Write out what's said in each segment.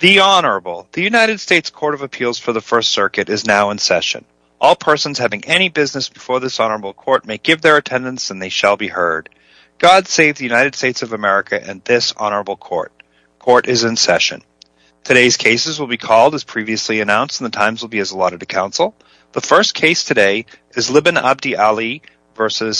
The Honorable. The United States Court of Appeals for the First Circuit is now in session. All persons having any business before this Honorable Court may give their attendance and they shall be heard. God save the United States of America and this Honorable Court. Court is in session. Today's cases will be called as previously announced and the times will be as allotted to counsel. The first case today is Libin Abdi Ali v.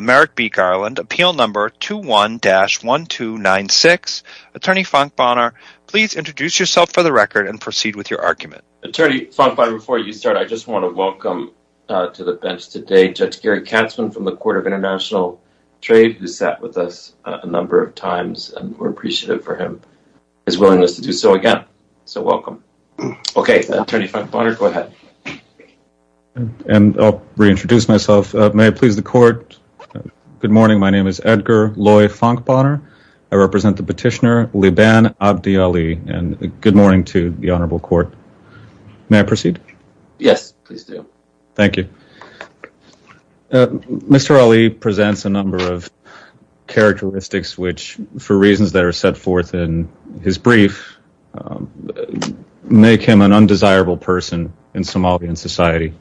Merrick B. Garland, Appeal Number 21-1296. Attorney Fonk Bonner, please introduce yourself for the record and proceed with your argument. Attorney Fonk, before you start, I just want to welcome to the bench today Judge Gary Katzmann from the Court of International Trade who sat with us a number of times and we're appreciative for his willingness to do so again. So welcome. Okay, Attorney Fonk Bonner, go ahead. And I'll reintroduce myself. May I please the court? Good morning. My name is Edgar Loy Fonk Bonner. I represent the petitioner Libin Abdi Ali. And good morning to the Honorable Court. May I proceed? Yes, please do. Thank you. Mr. Ali presents a number of characteristics which, for reasons that are set forth in his brief, make him an undesirable person in Somalian society.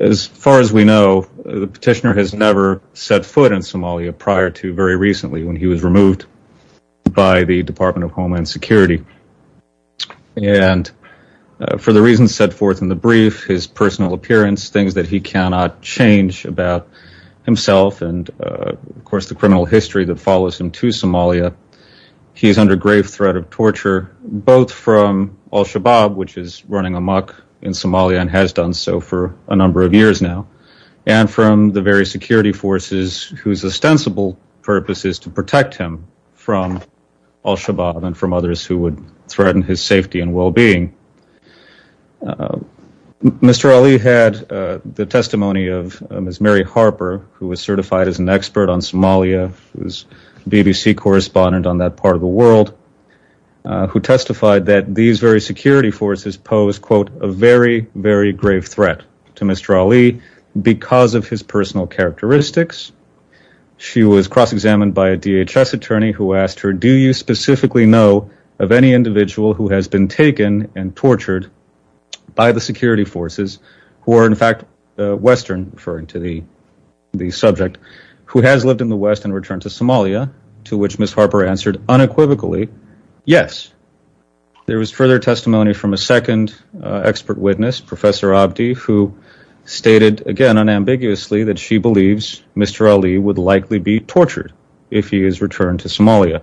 As far as we know, the petitioner has never set foot in Somalia prior to very recently when he was removed by the Department of Homeland Security. And for the reasons set forth in the brief, his personal appearance, things that he cannot change about himself, and of course the criminal history that follows him to Somalia, he's under grave threat of torture, both from Al-Shabaab, which is running amok in Somalia and has done so for a number of years now, and from the various security forces whose ostensible purpose is to protect him from Al-Shabaab and from others who would threaten his safety and well-being. Mr. Ali had the testimony of Ms. Mary Harper, who was certified as an expert on Somalia, who was a BBC correspondent on that part of the world, who testified that these very security forces posed, quote, a very, very grave threat to Mr. Ali because of his personal characteristics. She was cross-examined by a DHS attorney who asked her, do you specifically know of any individual who has been taken and tortured by the security forces, who are in fact Western, referring to the subject, who has lived in the West and returned to Somalia, to which Ms. Harper answered unequivocally, yes. There was further testimony from a second expert witness, Professor Abdi, who stated again unambiguously that she believes Mr. Ali would likely be tortured if he is returned to Somalia.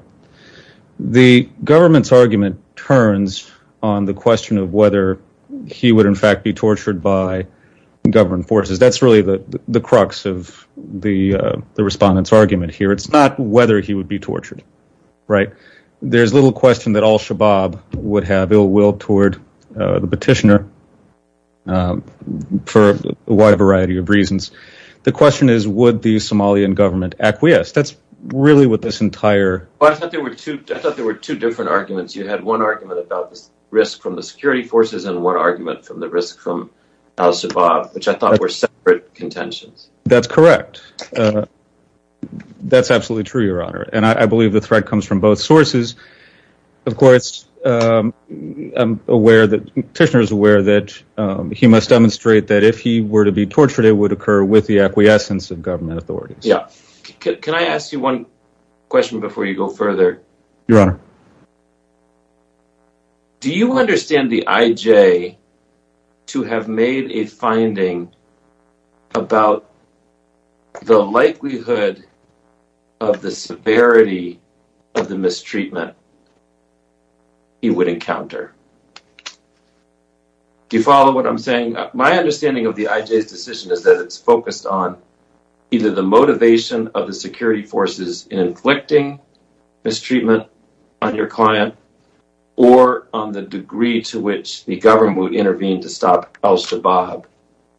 The government's argument turns on the question of whether he would in fact be tortured by government forces. That's really the crux of the respondent's argument here. It's not whether he would be tortured, right? There's little question that Al-Shabaab would have ill will toward the petitioner for a wide variety of reasons. The question is would the Somalian government acquiesce? I thought there were two different arguments. You had one argument about the risk from the security forces and one argument from the risk from Al-Shabaab, which I thought were separate contentions. That's correct. That's absolutely true, Your Honor. I believe the threat comes from both sources. Of course, the petitioner is aware that he must demonstrate that if he were to be tortured, it would occur with the acquiescence of government authorities. Can I ask you one question before you go further? Your Honor. Do you understand the IJ to have made a finding about the likelihood of the severity of the mistreatment he would encounter? Do you follow what I'm saying? My understanding of the IJ's decision is that it's focused on either the motivation of the security forces in inflicting mistreatment on your client or on the degree to which the government would intervene to stop Al-Shabaab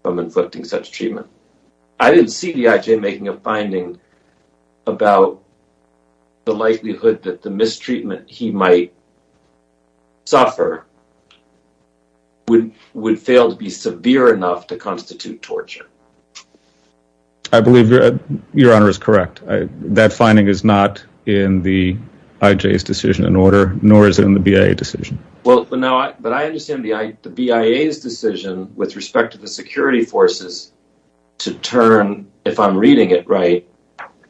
from inflicting such treatment. I didn't see the IJ making a finding about the likelihood that the mistreatment he might suffer would fail to be severe enough to constitute torture. I believe Your Honor is correct. That finding is not in the IJ's decision in order, nor is it in the BIA's decision. But I understand the BIA's decision with respect to the security forces to turn, if I'm reading it right,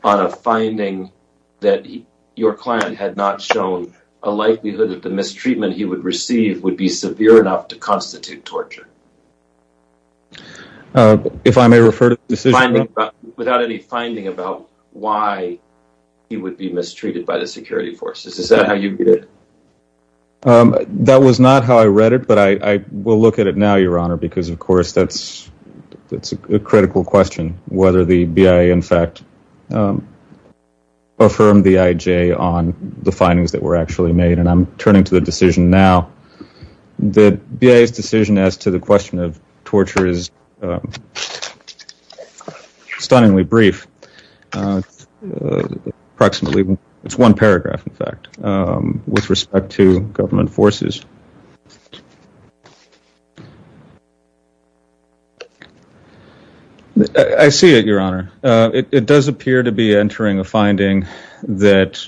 on a finding that your client had not shown a likelihood that the mistreatment he would receive would be severe enough to constitute torture. If I may refer to the decision? Without any finding about why he would be mistreated by the security forces. Is that how you read it? That was not how I read it, but I will look at it now, Your Honor, because of course that's a critical question, whether the BIA, in fact, affirmed the IJ on the findings that were actually made. And I'm turning to the decision now. The BIA's decision as to the question of torture is stunningly brief. It's one paragraph, in fact, with respect to government forces. I see it, Your Honor. It does appear to be entering a finding that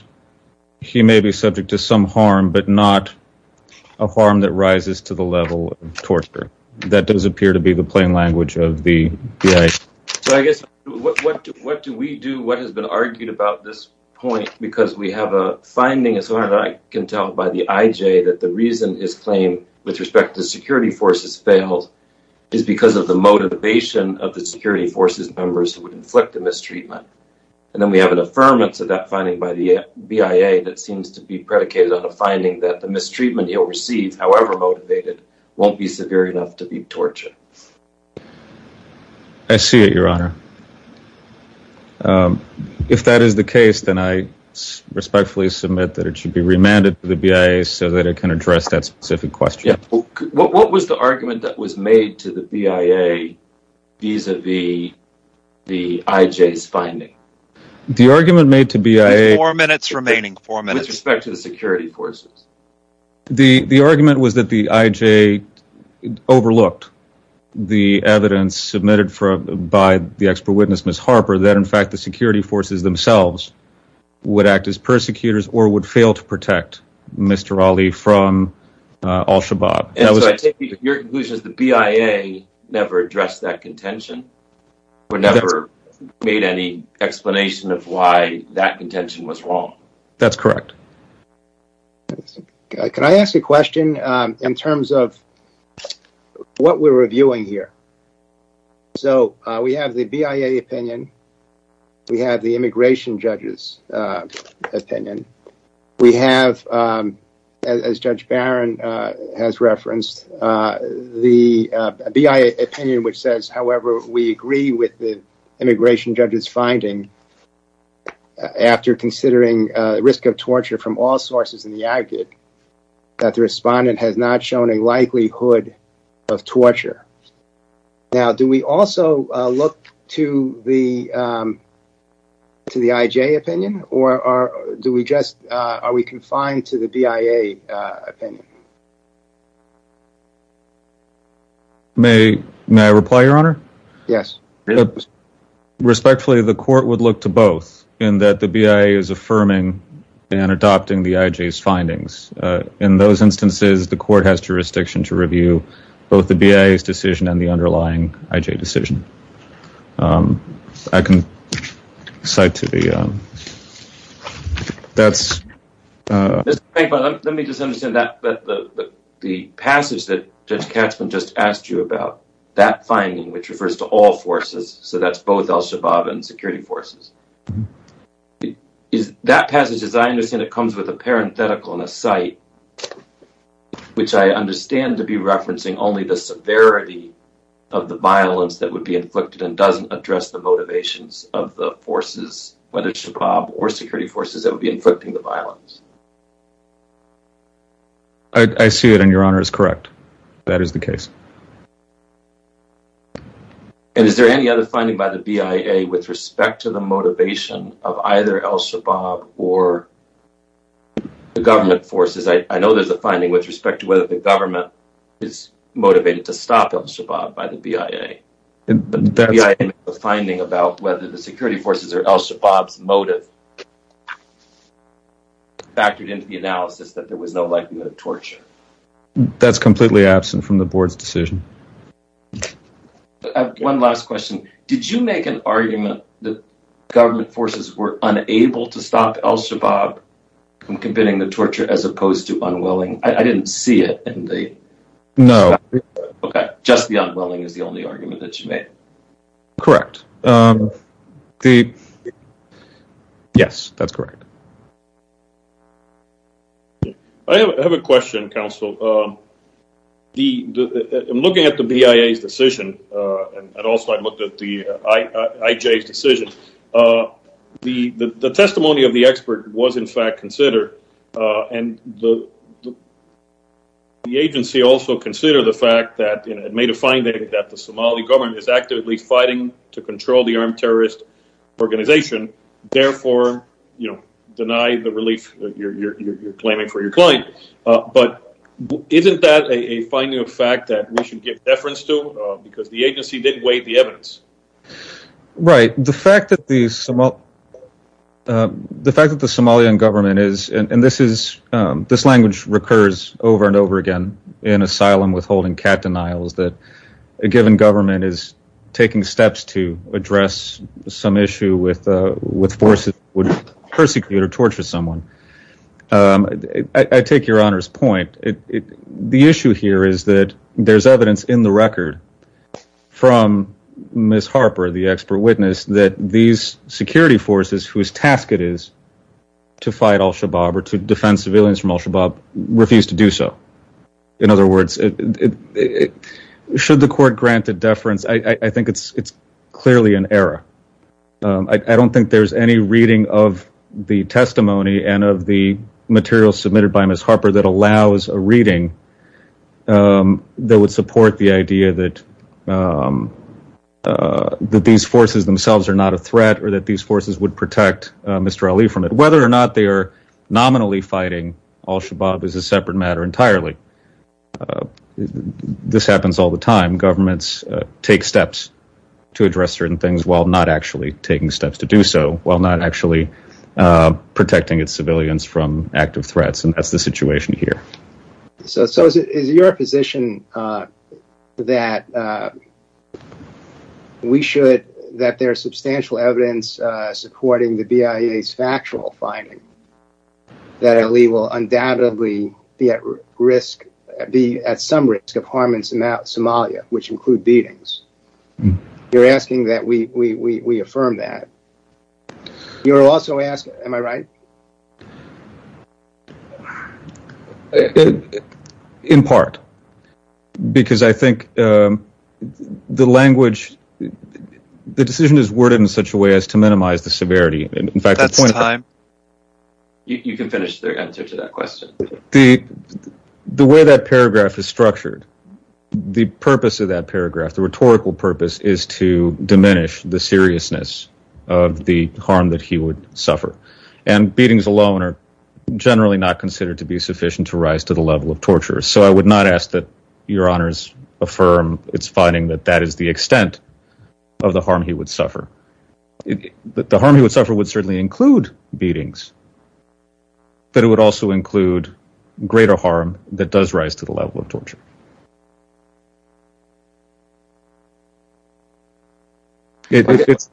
he may be subject to some harm, but not a harm that rises to the level of torture. That does appear to be the plain language of the IJ. So I guess what do we do, what has been argued about this point, because we have a finding, as far as I can tell, by the IJ, that the reason his claim with respect to the security forces failed is because of the motivation of the security forces members who would inflict the mistreatment. And then we have an affirmance of that finding by the BIA that seems to be predicated on a finding that the mistreatment he'll receive, however motivated, won't be severe enough to be torture. I see it, Your Honor. If that is the case, then I respectfully submit that it should be remanded to the BIA so that it can address that specific question. What was the argument that was made to the BIA vis-à-vis the IJ's finding? The argument made to BIA... Four minutes remaining, four minutes. With respect to the security forces. The argument was that the IJ overlooked the evidence submitted by the expert witness, Ms. Harper, that in fact the security forces themselves would act as persecutors or would fail to protect Mr. Ali from al-Shabaab. And so I take your conclusion that the BIA never addressed that contention, or never made any explanation of why that contention was wrong. That's correct. Can I ask a question in terms of what we're reviewing here? So we have the BIA opinion, we have the immigration judge's opinion, we have, as Judge Barron has referenced, the BIA opinion which says, however we agree with the immigration judge's finding, after considering risk of torture from all sources in the aggate, that the respondent has not shown a likelihood of torture. Now, do we also look to the IJ opinion? Or are we confined to the BIA opinion? May I reply, Your Honor? Yes. Respectfully, the court would look to both, in that the BIA is affirming and adopting the IJ's findings. In those instances, the court has jurisdiction to review both the BIA's decision and the underlying IJ decision. I can cite to the... That's... Let me just understand that the passage that Judge Katzmann just asked you about, that finding, which refers to all forces, so that's both al-Shabaab and security forces. That passage, as I understand it, comes with a parenthetical and a cite, which I understand to be referencing only the severity of the violence that would be inflicted and doesn't address the motivations of the forces, whether Shabaab or security forces that would be inflicting the violence. I see it, and Your Honor is correct. That is the case. And is there any other finding by the BIA with respect to the motivation of either al-Shabaab or the government forces? I know there's a finding with respect to whether the government is motivated to stop al-Shabaab by the BIA. The BIA has a finding about whether the security forces or al-Shabaab's motive factored into the analysis that there was no likelihood of torture. That's completely absent from the Board's decision. One last question. Did you make an argument that government forces were unable to stop al-Shabaab from committing the torture as opposed to unwilling? I didn't see it in the… No. Okay. Just the unwilling is the only argument that you made. Correct. Yes, that's correct. I have a question, counsel. In looking at the BIA's decision, and also I looked at the IJ's decision, the testimony of the expert was, in fact, considered, and the agency also considered the fact that it made a finding that the Somali government is actively fighting to control the armed terrorist organization, therefore denying the relief you're claiming for your client. But isn't that a finding of fact that we should give deference to because the agency did weigh the evidence? Right. The fact that the Somalian government is, and this language recurs over and over again in asylum withholding cat denials, that a given government is taking steps to address some issue with forces that would persecute or torture someone. I take your Honor's point. The issue here is that there's evidence in the record from Ms. Harper, the expert witness, that these security forces whose task it is to fight al-Shabaab or to defend civilians from al-Shabaab refused to do so. In other words, should the court grant a deference? I think it's clearly an error. I don't think there's any reading of the testimony and of the material submitted by Ms. Harper that allows a reading that would support the idea that these forces themselves are not a threat or that these forces would protect Mr. Ali from it. Whether or not they are nominally fighting al-Shabaab is a separate matter entirely. This happens all the time. Governments take steps to address certain things while not actually taking steps to do so, while not actually protecting its civilians from active threats, and that's the situation here. So is it your position that there's substantial evidence supporting the BIA's factual finding that Ali will undoubtedly be at some risk of harm in Somalia, which include beatings? You're asking that we affirm that. You're also asking, am I right? In part, because I think the decision is worded in such a way as to minimize the severity. The way that paragraph is structured, the purpose of that paragraph, the rhetorical purpose, is to diminish the seriousness of the harm that he would suffer. And beatings alone are generally not considered to be sufficient to rise to the level of torture. So I would not ask that your honors affirm its finding that that is the extent of the harm he would suffer. The harm he would suffer would certainly include beatings, but it would also include greater harm that does rise to the level of torture. It's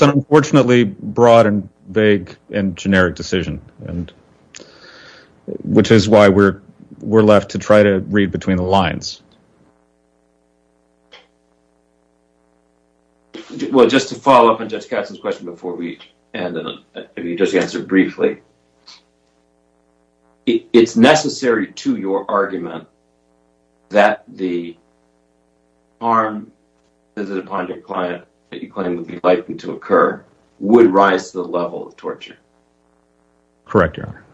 an unfortunately broad and vague and generic decision, which is why we're left to try to read between the lines. Well, just to follow up on Judge Katzen's question before we end, if you'd just answer briefly, it's necessary to your argument that the harm that is upon your client that you claim would be likely to occur would rise to the level of torture? Correct, your honor.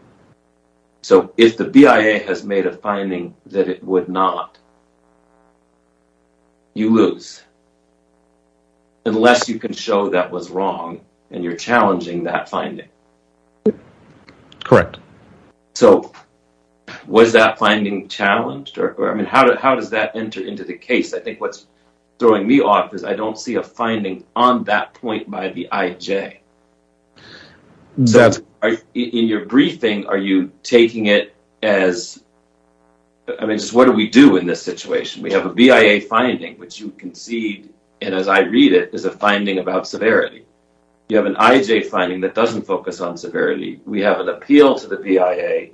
So if the BIA has made a finding that it would not, you lose. Unless you can show that was wrong and you're challenging that finding. Correct. So was that finding challenged? I mean, how does that enter into the case? I think what's throwing me off is I don't see a finding on that point by the IJ. In your briefing, are you taking it as, I mean, just what do we do in this situation? We have a BIA finding, which you concede, and as I read it, is a finding about severity. You have an IJ finding that doesn't focus on severity. We have an appeal to the BIA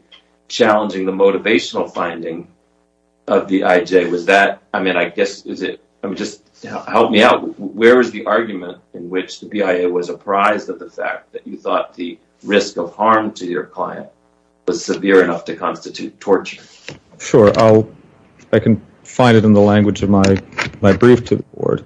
challenging the motivational finding of the IJ. I mean, just help me out. Where is the argument in which the BIA was apprised of the fact that you thought the risk of harm to your client was severe enough to constitute torture? Sure. I can find it in the language of my brief to the board.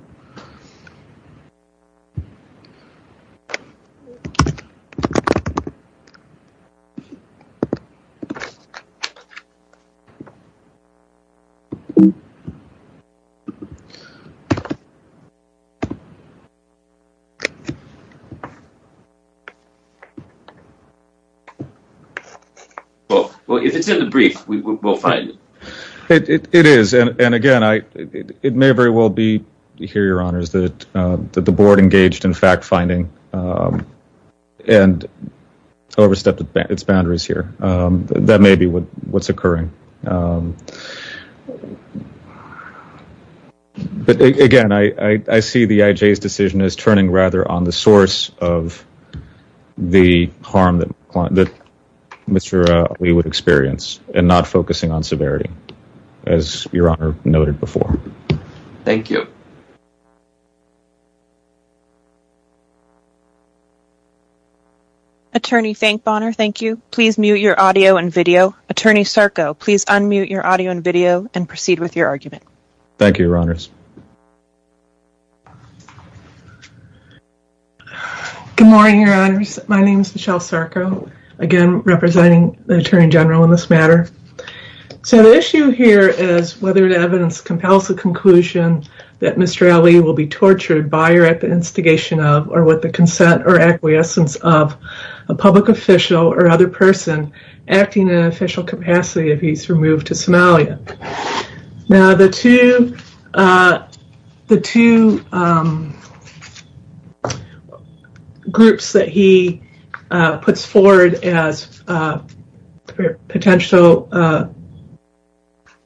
Well, if it's in the brief, we'll find it. It is. And, again, it may very well be here, Your Honors, that the board engaged in fact-finding and overstepped its boundaries here. That may be what's occurring. But, again, I see the IJ's decision as turning rather on the source of the harm that Mr. Lee would experience and not focusing on severity, as Your Honor noted before. Thank you. Attorney Finkbonner, thank you. Please mute your audio and video. Attorney Sarko, please unmute your audio and video and proceed with your argument. Thank you, Your Honors. Good morning, Your Honors. My name is Michelle Sarko, again, representing the Attorney General in this matter. So the issue here is whether the evidence compels the conclusion that Mr. Lee will be tortured by or at the instigation of or with the consent or acquiescence of a public official or other person acting in an official capacity if he's removed to Somalia. Now, the two groups that he puts forward as potential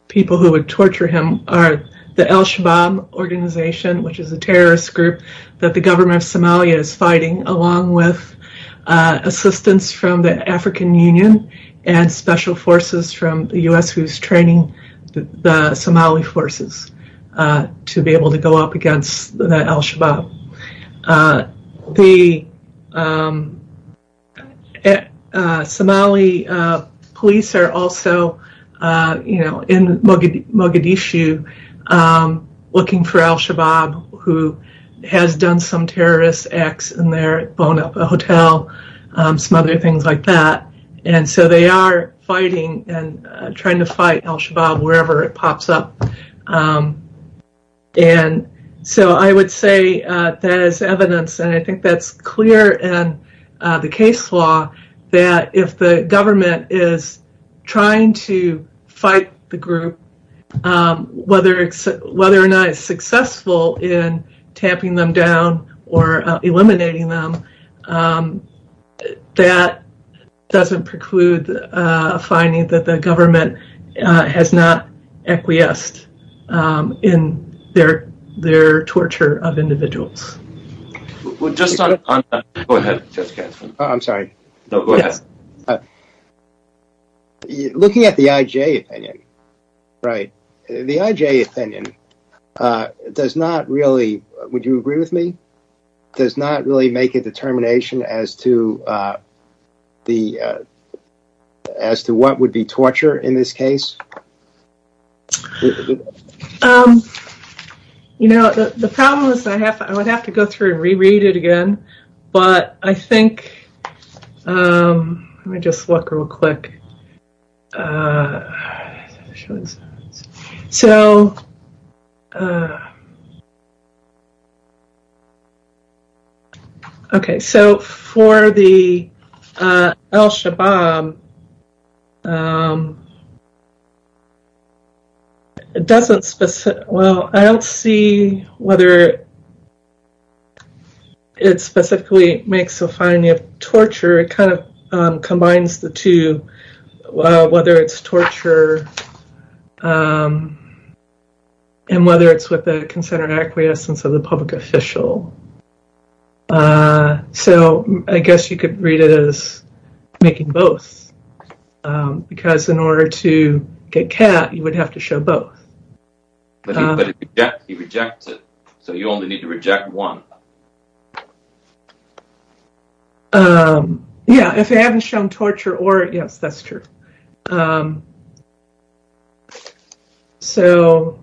people who would torture him are the al-Shabaab organization, which is a terrorist group that the government of Somalia is fighting, along with assistance from the African Union and special forces from the U.S. who's training the Somali forces to be able to go up against al-Shabaab. The Somali police are also in Mogadishu looking for al-Shabaab, who has done some terrorist acts in their hotel, some other things like that. And so they are fighting and trying to fight al-Shabaab wherever it pops up. And so I would say that is evidence, and I think that's clear in the case law, that if the government is trying to fight the group, whether or not it's successful in tamping them down or eliminating them, that doesn't preclude finding that the government has not acquiesced. In their torture of individuals. Go ahead. I'm sorry. No, go ahead. Looking at the IJ opinion, right, the IJ opinion does not really, would you agree with me, does not really make a determination as to what would be torture in this case? You know, the problem is, I would have to go through and reread it again, but I think, let me just look real quick. Showing slides. So. OK, so for the al-Shabaab. It doesn't, well, I don't see whether it specifically makes a finding of torture, it kind of combines the two, whether it's torture and whether it's with the consent or acquiescence of the public official. So I guess you could read it as making both, because in order to get Kat, you would have to show both. But he rejects it, so you only need to reject one. Yeah, if they haven't shown torture or, yes, that's true. So.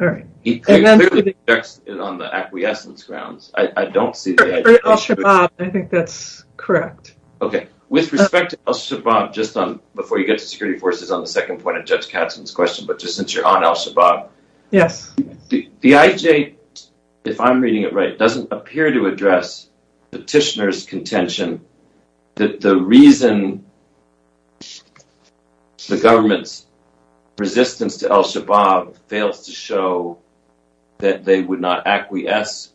All right. He clearly rejects it on the acquiescence grounds. I don't see the IJ. For al-Shabaab, I think that's correct. OK. With respect to al-Shabaab, just before you get to security forces on the second point of Judge Katzen's question, but just since you're on al-Shabaab. Yes. The IJ, if I'm reading it right, doesn't appear to address petitioner's contention that the reason the government's resistance to al-Shabaab fails to show that they would not acquiesce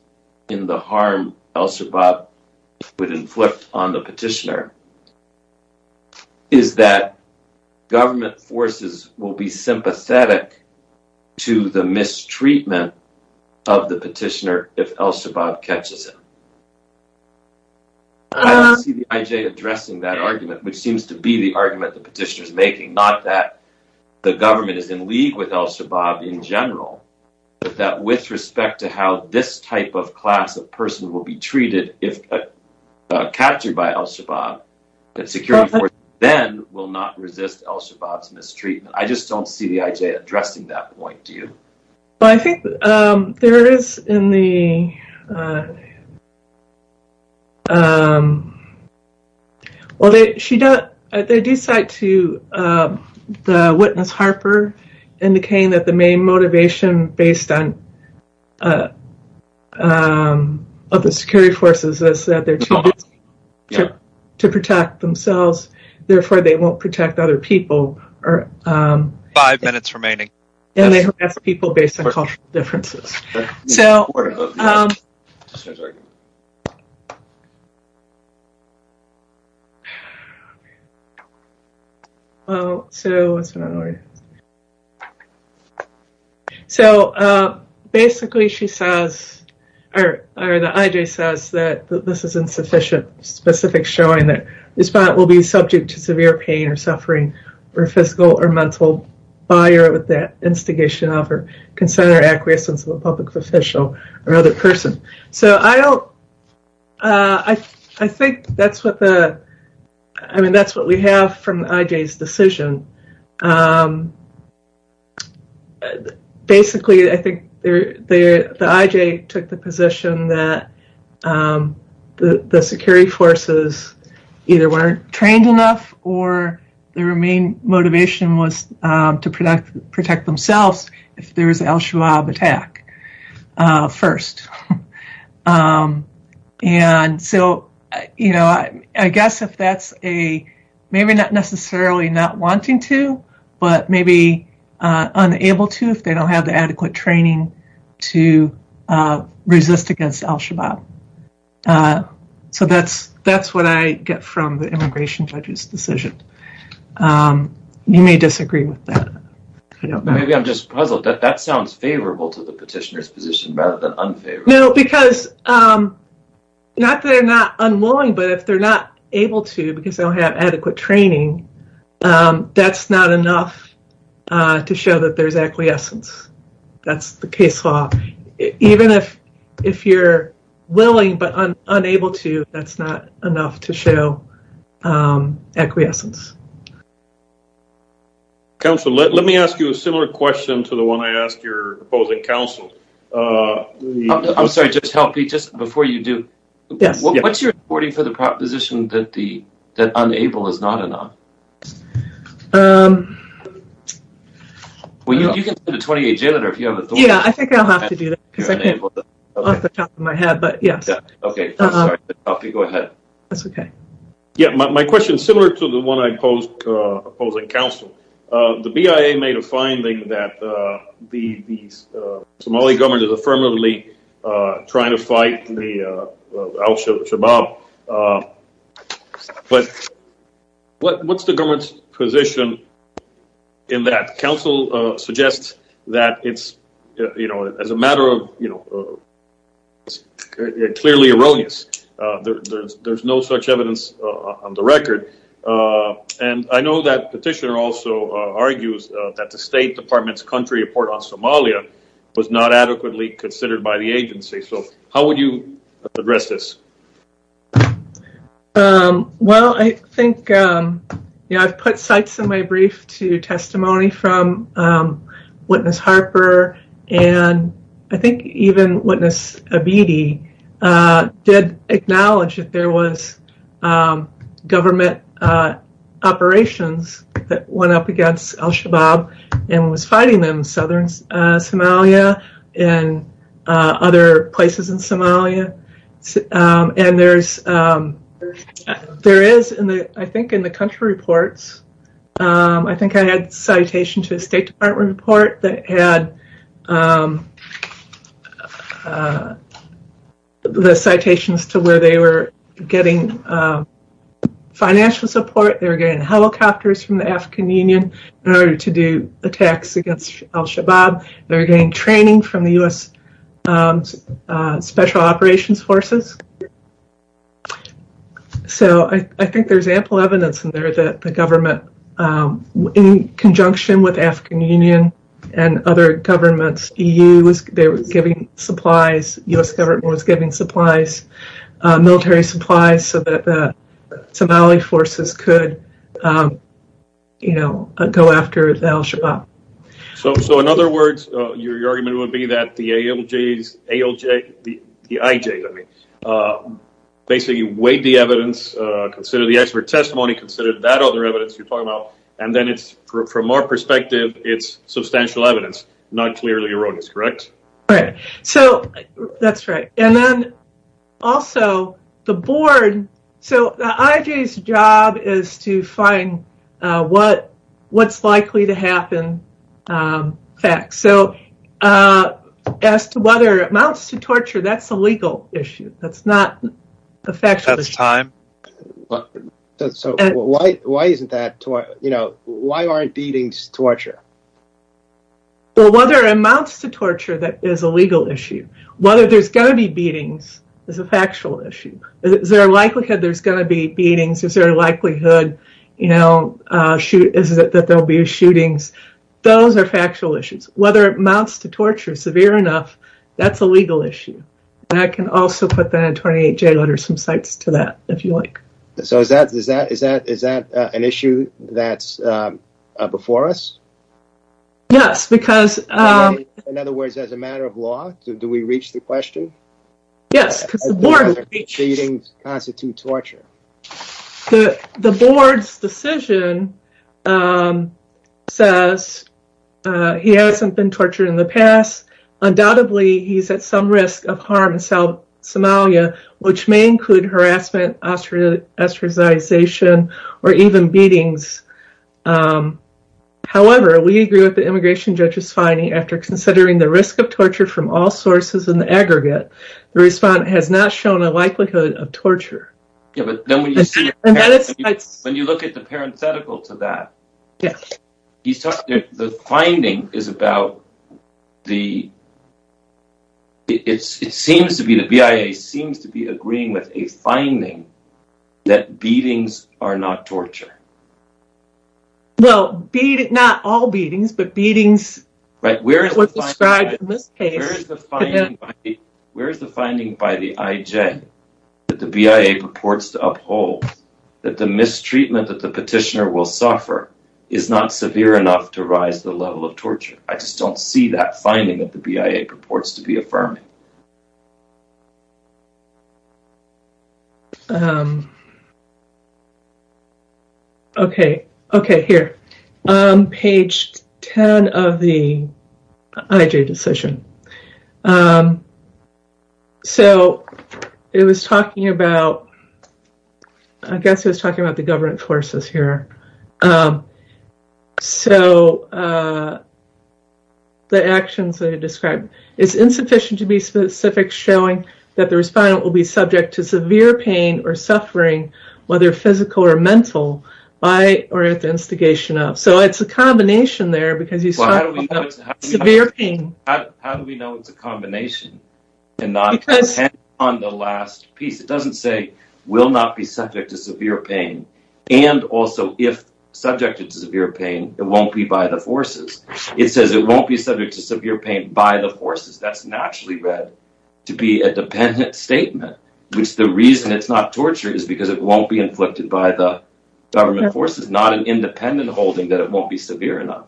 in the harm al-Shabaab would inflict on the petitioner. Is that government forces will be sympathetic to the mistreatment of the petitioner if al-Shabaab catches him. I don't see the IJ addressing that argument, which seems to be the argument the petitioner's making. Not that the government is in league with al-Shabaab in general, but that with respect to how this type of class of person will be treated if captured by al-Shabaab, that security forces then will not resist al-Shabaab's mistreatment. I just don't see the IJ addressing that point, do you? Well, I think there is in the... So, um... So, what's going on here? So, basically she says, or the IJ says that this is insufficient, specific showing that the respondent will be subject to severe pain or suffering or physical or mental fire with that instigation of or consent or acquiescence of a public official or other person. So, I don't... I think that's what the... I mean, that's what we have from the IJ's decision. Basically, I think the IJ took the position that the security forces either weren't trained enough or their main motivation was to protect themselves if there was an al-Shabaab attack first. And so, you know, I guess if that's a... maybe not necessarily not wanting to, but maybe unable to if they don't have the adequate training to resist against al-Shabaab. So, that's what I get from the immigration judge's decision. You may disagree with that. Maybe I'm just puzzled. That sounds favorable to the petitioner's position rather than unfavorable. No, because not that they're not unwilling, but if they're not able to because they don't have adequate training, that's not enough to show that there's acquiescence. That's the case law. Even if you're willing but unable to, that's not enough to show acquiescence. Councilor, let me ask you a similar question to the one I asked your opposing council. I'm sorry, just help me just before you do. Yes. What's your reporting for the proposition that unable is not enough? Well, you can send a 28-Jailor if you have authority. Yeah, I think I'll have to do that because I can't think off the top of my head, but yes. Okay, I'm sorry to interrupt you. Go ahead. That's okay. Yeah, my question is similar to the one I posed to opposing council. The BIA made a finding that the Somali government is affirmatively trying to fight the al-Shabaab, but what's the government's position in that? Council suggests that it's clearly erroneous. There's no such evidence on the record. I know that petitioner also argues that the State Department's country report on Somalia was not adequately considered by the agency. How would you address this? Well, I think I've put sites in my brief to testimony from Witness Harper and I think even Witness Abidi did acknowledge that there was government operations that went up against al-Shabaab and was fighting them in southern Somalia and other places in Somalia. And there is, I think in the country reports, I think I had citation to a State Department report that had the citations to where they were getting financial support, they were getting helicopters from the African Union in order to do attacks against al-Shabaab, they were getting training from the U.S. Special Operations Forces. So I think there's ample evidence in there that the government, in conjunction with African Union and other governments, they were giving supplies, U.S. government was giving supplies, military supplies, so that the Somali forces could go after al-Shabaab. So in other words, your argument would be that the ALJs, the IJs, basically you weighed the evidence, considered the expert testimony, considered that other evidence you're talking about, and then it's, from our perspective, it's substantial evidence, not clearly erroneous, correct? Right. So, that's right. And then, also, the board, so the IJ's job is to find what's likely to happen, facts. So, as to whether it amounts to torture, that's a legal issue, that's not a factual issue. So, why isn't that, you know, why aren't beatings torture? Well, whether it amounts to torture, that is a legal issue. Whether there's going to be beatings is a factual issue. Is there a likelihood there's going to be beatings? Is there a likelihood, you know, that there will be shootings? Those are factual issues. Whether it amounts to torture, severe enough, that's a legal issue. And I can also put that in a 28-J letter, some cites to that, if you like. So, is that an issue that's before us? Yes, because... In other words, as a matter of law, do we reach the question? Yes, because the board... Does beatings constitute torture? The board's decision says he hasn't been tortured in the past. Undoubtedly, he's at some risk of harm in Somalia, which may include harassment, ostracization, or even beatings. However, we agree with the immigration judge's finding, after considering the risk of torture from all sources in the aggregate, the respondent has not shown a likelihood of torture. When you look at the parenthetical to that, the finding is about the... The BIA seems to be agreeing with a finding that beatings are not torture. Well, not all beatings, but beatings were described in this case. Where is the finding by the IJ that the BIA purports to uphold that the mistreatment that the petitioner will suffer is not severe enough to rise the level of torture? I just don't see that finding that the BIA purports to be affirming. Okay, here. Page 10 of the IJ decision. So, it was talking about... I guess it was talking about the government forces here. So, the actions that are described... It's insufficient to be specific, showing that the respondent will be subject to severe pain or suffering, whether physical or mental, by or at the instigation of. So, it's a combination there, because you start with severe pain. How do we know it's a combination, and not on the last piece? It doesn't say, will not be subject to severe pain. And also, if subjected to severe pain, it won't be by the forces. It says it won't be subject to severe pain by the forces. That's naturally read to be a dependent statement, which the reason it's not torture is because it won't be inflicted by the government forces, not an independent holding that it won't be severe enough.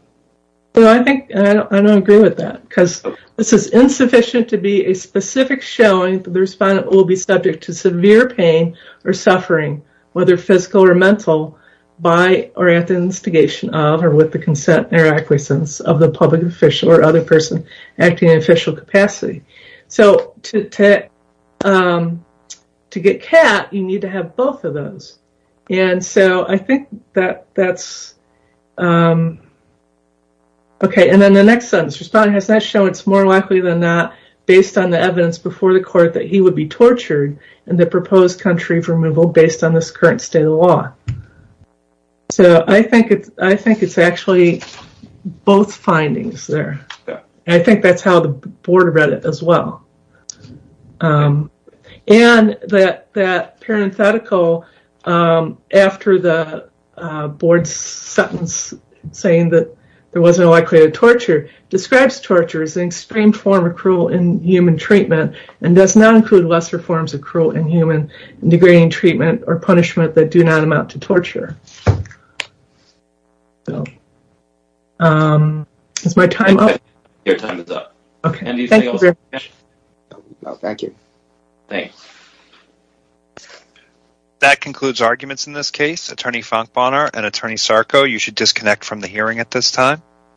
I don't agree with that, because this is insufficient to be a specific showing that the respondent will be subject to severe pain or suffering, whether physical or mental, by or at the instigation of, or with the consent or acquiescence of the public official or other person acting in official capacity. So, to get CAT, you need to have both of those. And so, I think that that's, okay, and then the next sentence. Respondent has not shown it's more likely than not, based on the evidence before the court that he would be tortured in the proposed country of removal based on this current state of the law. So, I think it's actually both findings there. I think that's how the board read it as well. And that parenthetical after the board's sentence saying that there wasn't a likelihood of torture, describes torture as an extreme form of cruel inhuman treatment and does not include lesser forms of cruel inhuman degrading treatment or punishment that do not amount to torture. So, is my time up? Your time is up. Okay. Thank you. Thanks. That concludes arguments in this case. Attorney Fonkbonar and Attorney Sarko, you should disconnect from the hearing at this time.